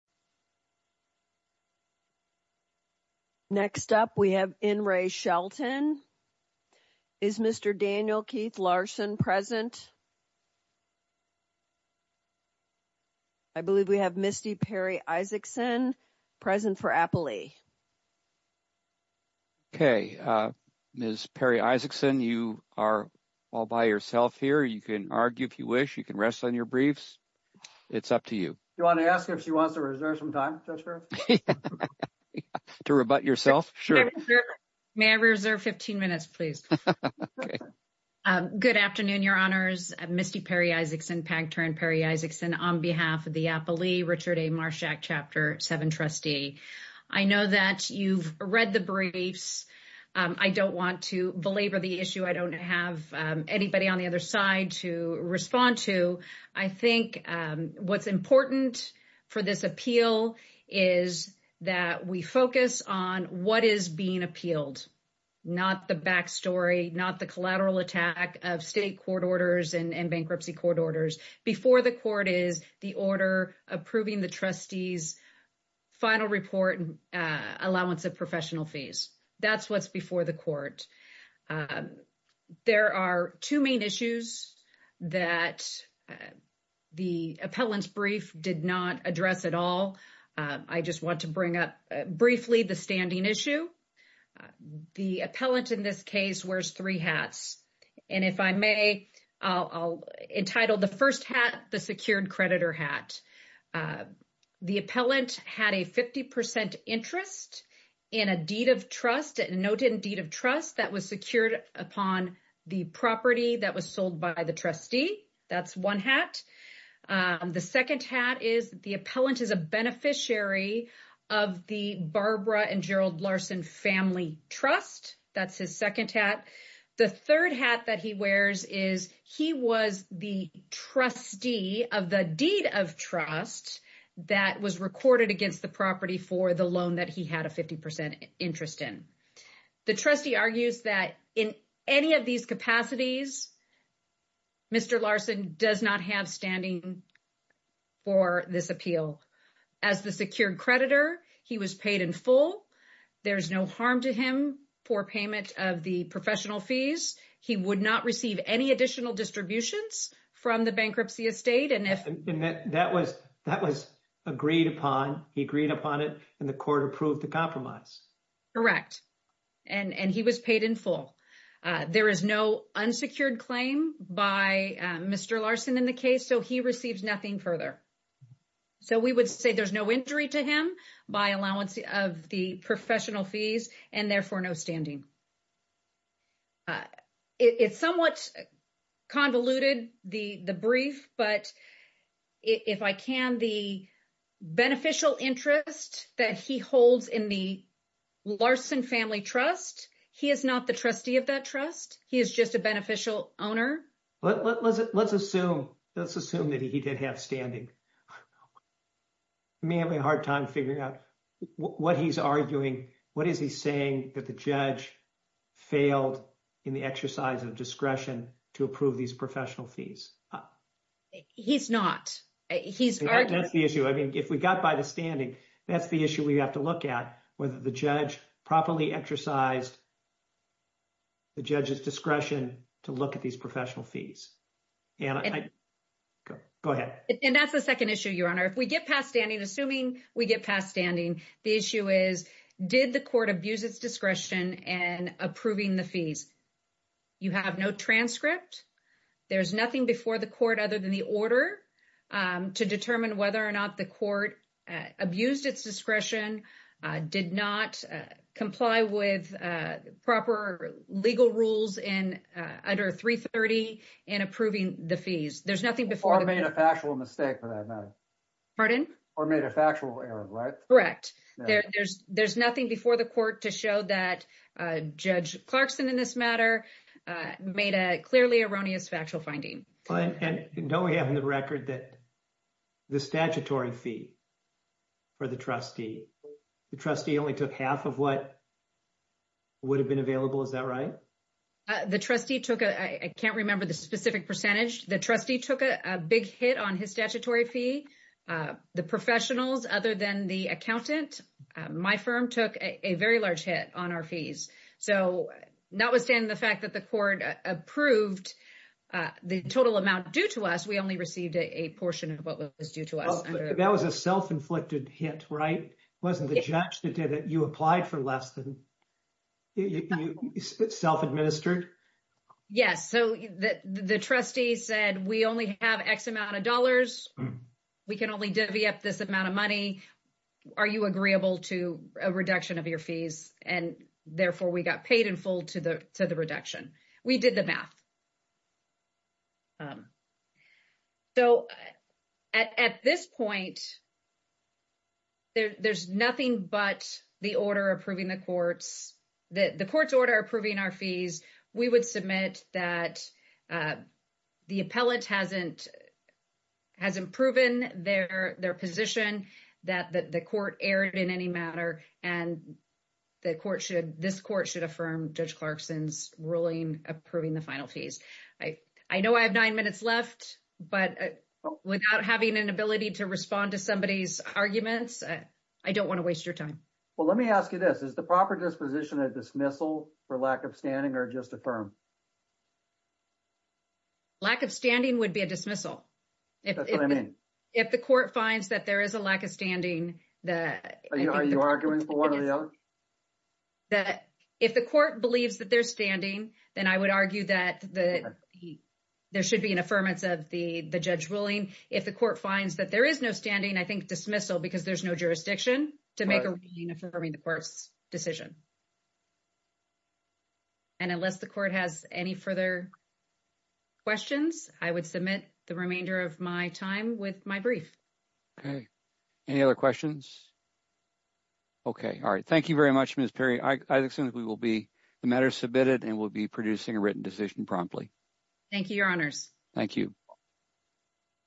Next up, we have in re Shelton. Is Mr. Daniel Keith Larson present. I believe we have Misty Perry Isaacson present for Appley. Okay, Miss Perry Isaacson, you are all by yourself here. You can argue if you wish you can rest on your briefs. It's up to you. You want to ask if she wants to reserve some time to rebut yourself. Sure. May I reserve 15 minutes, please? Good afternoon. Your honors. Misty Perry Isaacson, Pankter and Perry Isaacson on behalf of the Appley Richard A. Marshak chapter 7 trustee. I know that you've read the briefs. I don't want to belabor the issue. I don't have anybody on the other side to respond to. I think what's important for this appeal is that we focus on what is being appealed. Not the back story, not the collateral attack of state court orders and bankruptcy court orders before the court is the order approving the trustees. Final report allowance of professional fees. That's what's before the court. There are 2 main issues that the appellant's brief did not address at all. I just want to bring up briefly the standing issue. The appellant in this case, wears 3 hats. And if I may, I'll entitle the 1st hat, the secured creditor hat. The appellant had a 50% interest in a deed of trust and noted in deed of trust that was secured upon the property that was sold by the trustee. That's 1 hat. Um, the 2nd hat is the appellant is a beneficiary of the Barbara and Gerald Larson family trust. That's his 2nd hat. The 3rd hat that he wears is he was the trustee of the deed of trust that was recorded against the property for the loan that he had a 50% interest in. The trustee argues that in any of these capacities. Mr. Larson does not have standing for this appeal as the secured creditor. He was paid in full. There's no harm to him for payment of the professional fees. He would not receive any additional distributions from the bankruptcy estate. And if that was that was agreed upon, he agreed upon it and the court approved the compromise. Correct and he was paid in full. There is no unsecured claim by Mr. Larson in the case. So he receives nothing further. So, we would say there's no injury to him by allowance of the professional fees and therefore no standing. It's somewhat convoluted the brief, but. If I can the beneficial interest that he holds in the. Larson family trust, he is not the trustee of that trust. He is just a beneficial owner, but let's let's assume let's assume that he did have standing. May have a hard time figuring out what he's arguing. What is he saying that the judge failed in the exercise of discretion to approve these professional fees. He's not he's the issue. I mean, if we got by the standing, that's the issue we have to look at whether the judge properly exercised. The judge's discretion to look at these professional fees. And go ahead and that's the 2nd issue. Your honor, if we get past standing, assuming we get past standing, the issue is, did the court abuse its discretion and approving the fees. You have no transcript, there's nothing before the court other than the order to determine whether or not the court abused its discretion did not comply with proper legal rules in under 330 and approving the fees. There's nothing before I made a factual mistake for that. Pardon or made a factual error, right? Correct. There's, there's nothing before the court to show that judge Clarkson in this matter made a clearly erroneous factual finding. And don't we have in the record that the statutory fee. For the trustee, the trustee only took half of what. Would have been available. Is that right? The trustee took a, I can't remember the specific percentage. The trustee took a big hit on his statutory fee. The professionals, other than the accountant, my firm took a very large hit on our fees. So, notwithstanding the fact that the court approved. The total amount due to us, we only received a portion of what was due to us. That was a self inflicted hit, right? It wasn't the judge that did it. You applied for less than. Self administered. Yes. So the trustee said we only have X amount of dollars. We can only divvy up this amount of money. Are you agreeable to a reduction of your fees? And therefore, we got paid in full to the, to the reduction. We did the math. So. At this point, there's nothing, but the order approving the courts. That the court's order approving our fees, we would submit that. Uh, the appellate hasn't. Hasn't proven their, their position that the court aired in any matter and. The court should this court should affirm judge Clarkson's ruling approving the final fees. I, I know I have 9 minutes left, but without having an ability to respond to somebody's arguments. I don't want to waste your time. Well, let me ask you this is the proper disposition of dismissal for lack of standing or just a firm. Lack of standing would be a dismissal. If the court finds that there is a lack of standing that are you arguing for? That if the court believes that they're standing, then I would argue that the, there should be an affirmance of the, the judge ruling. If the court finds that there is no standing, I think dismissal because there's no jurisdiction to make affirming the court's decision. And unless the court has any further questions, I would submit the remainder of my time with my brief. Okay. Any other questions? Okay. All right. Thank you very much. Ms. Perry. I assume we will be the matter submitted and we'll be producing a written decision promptly. Thank you. Your honors. Thank you.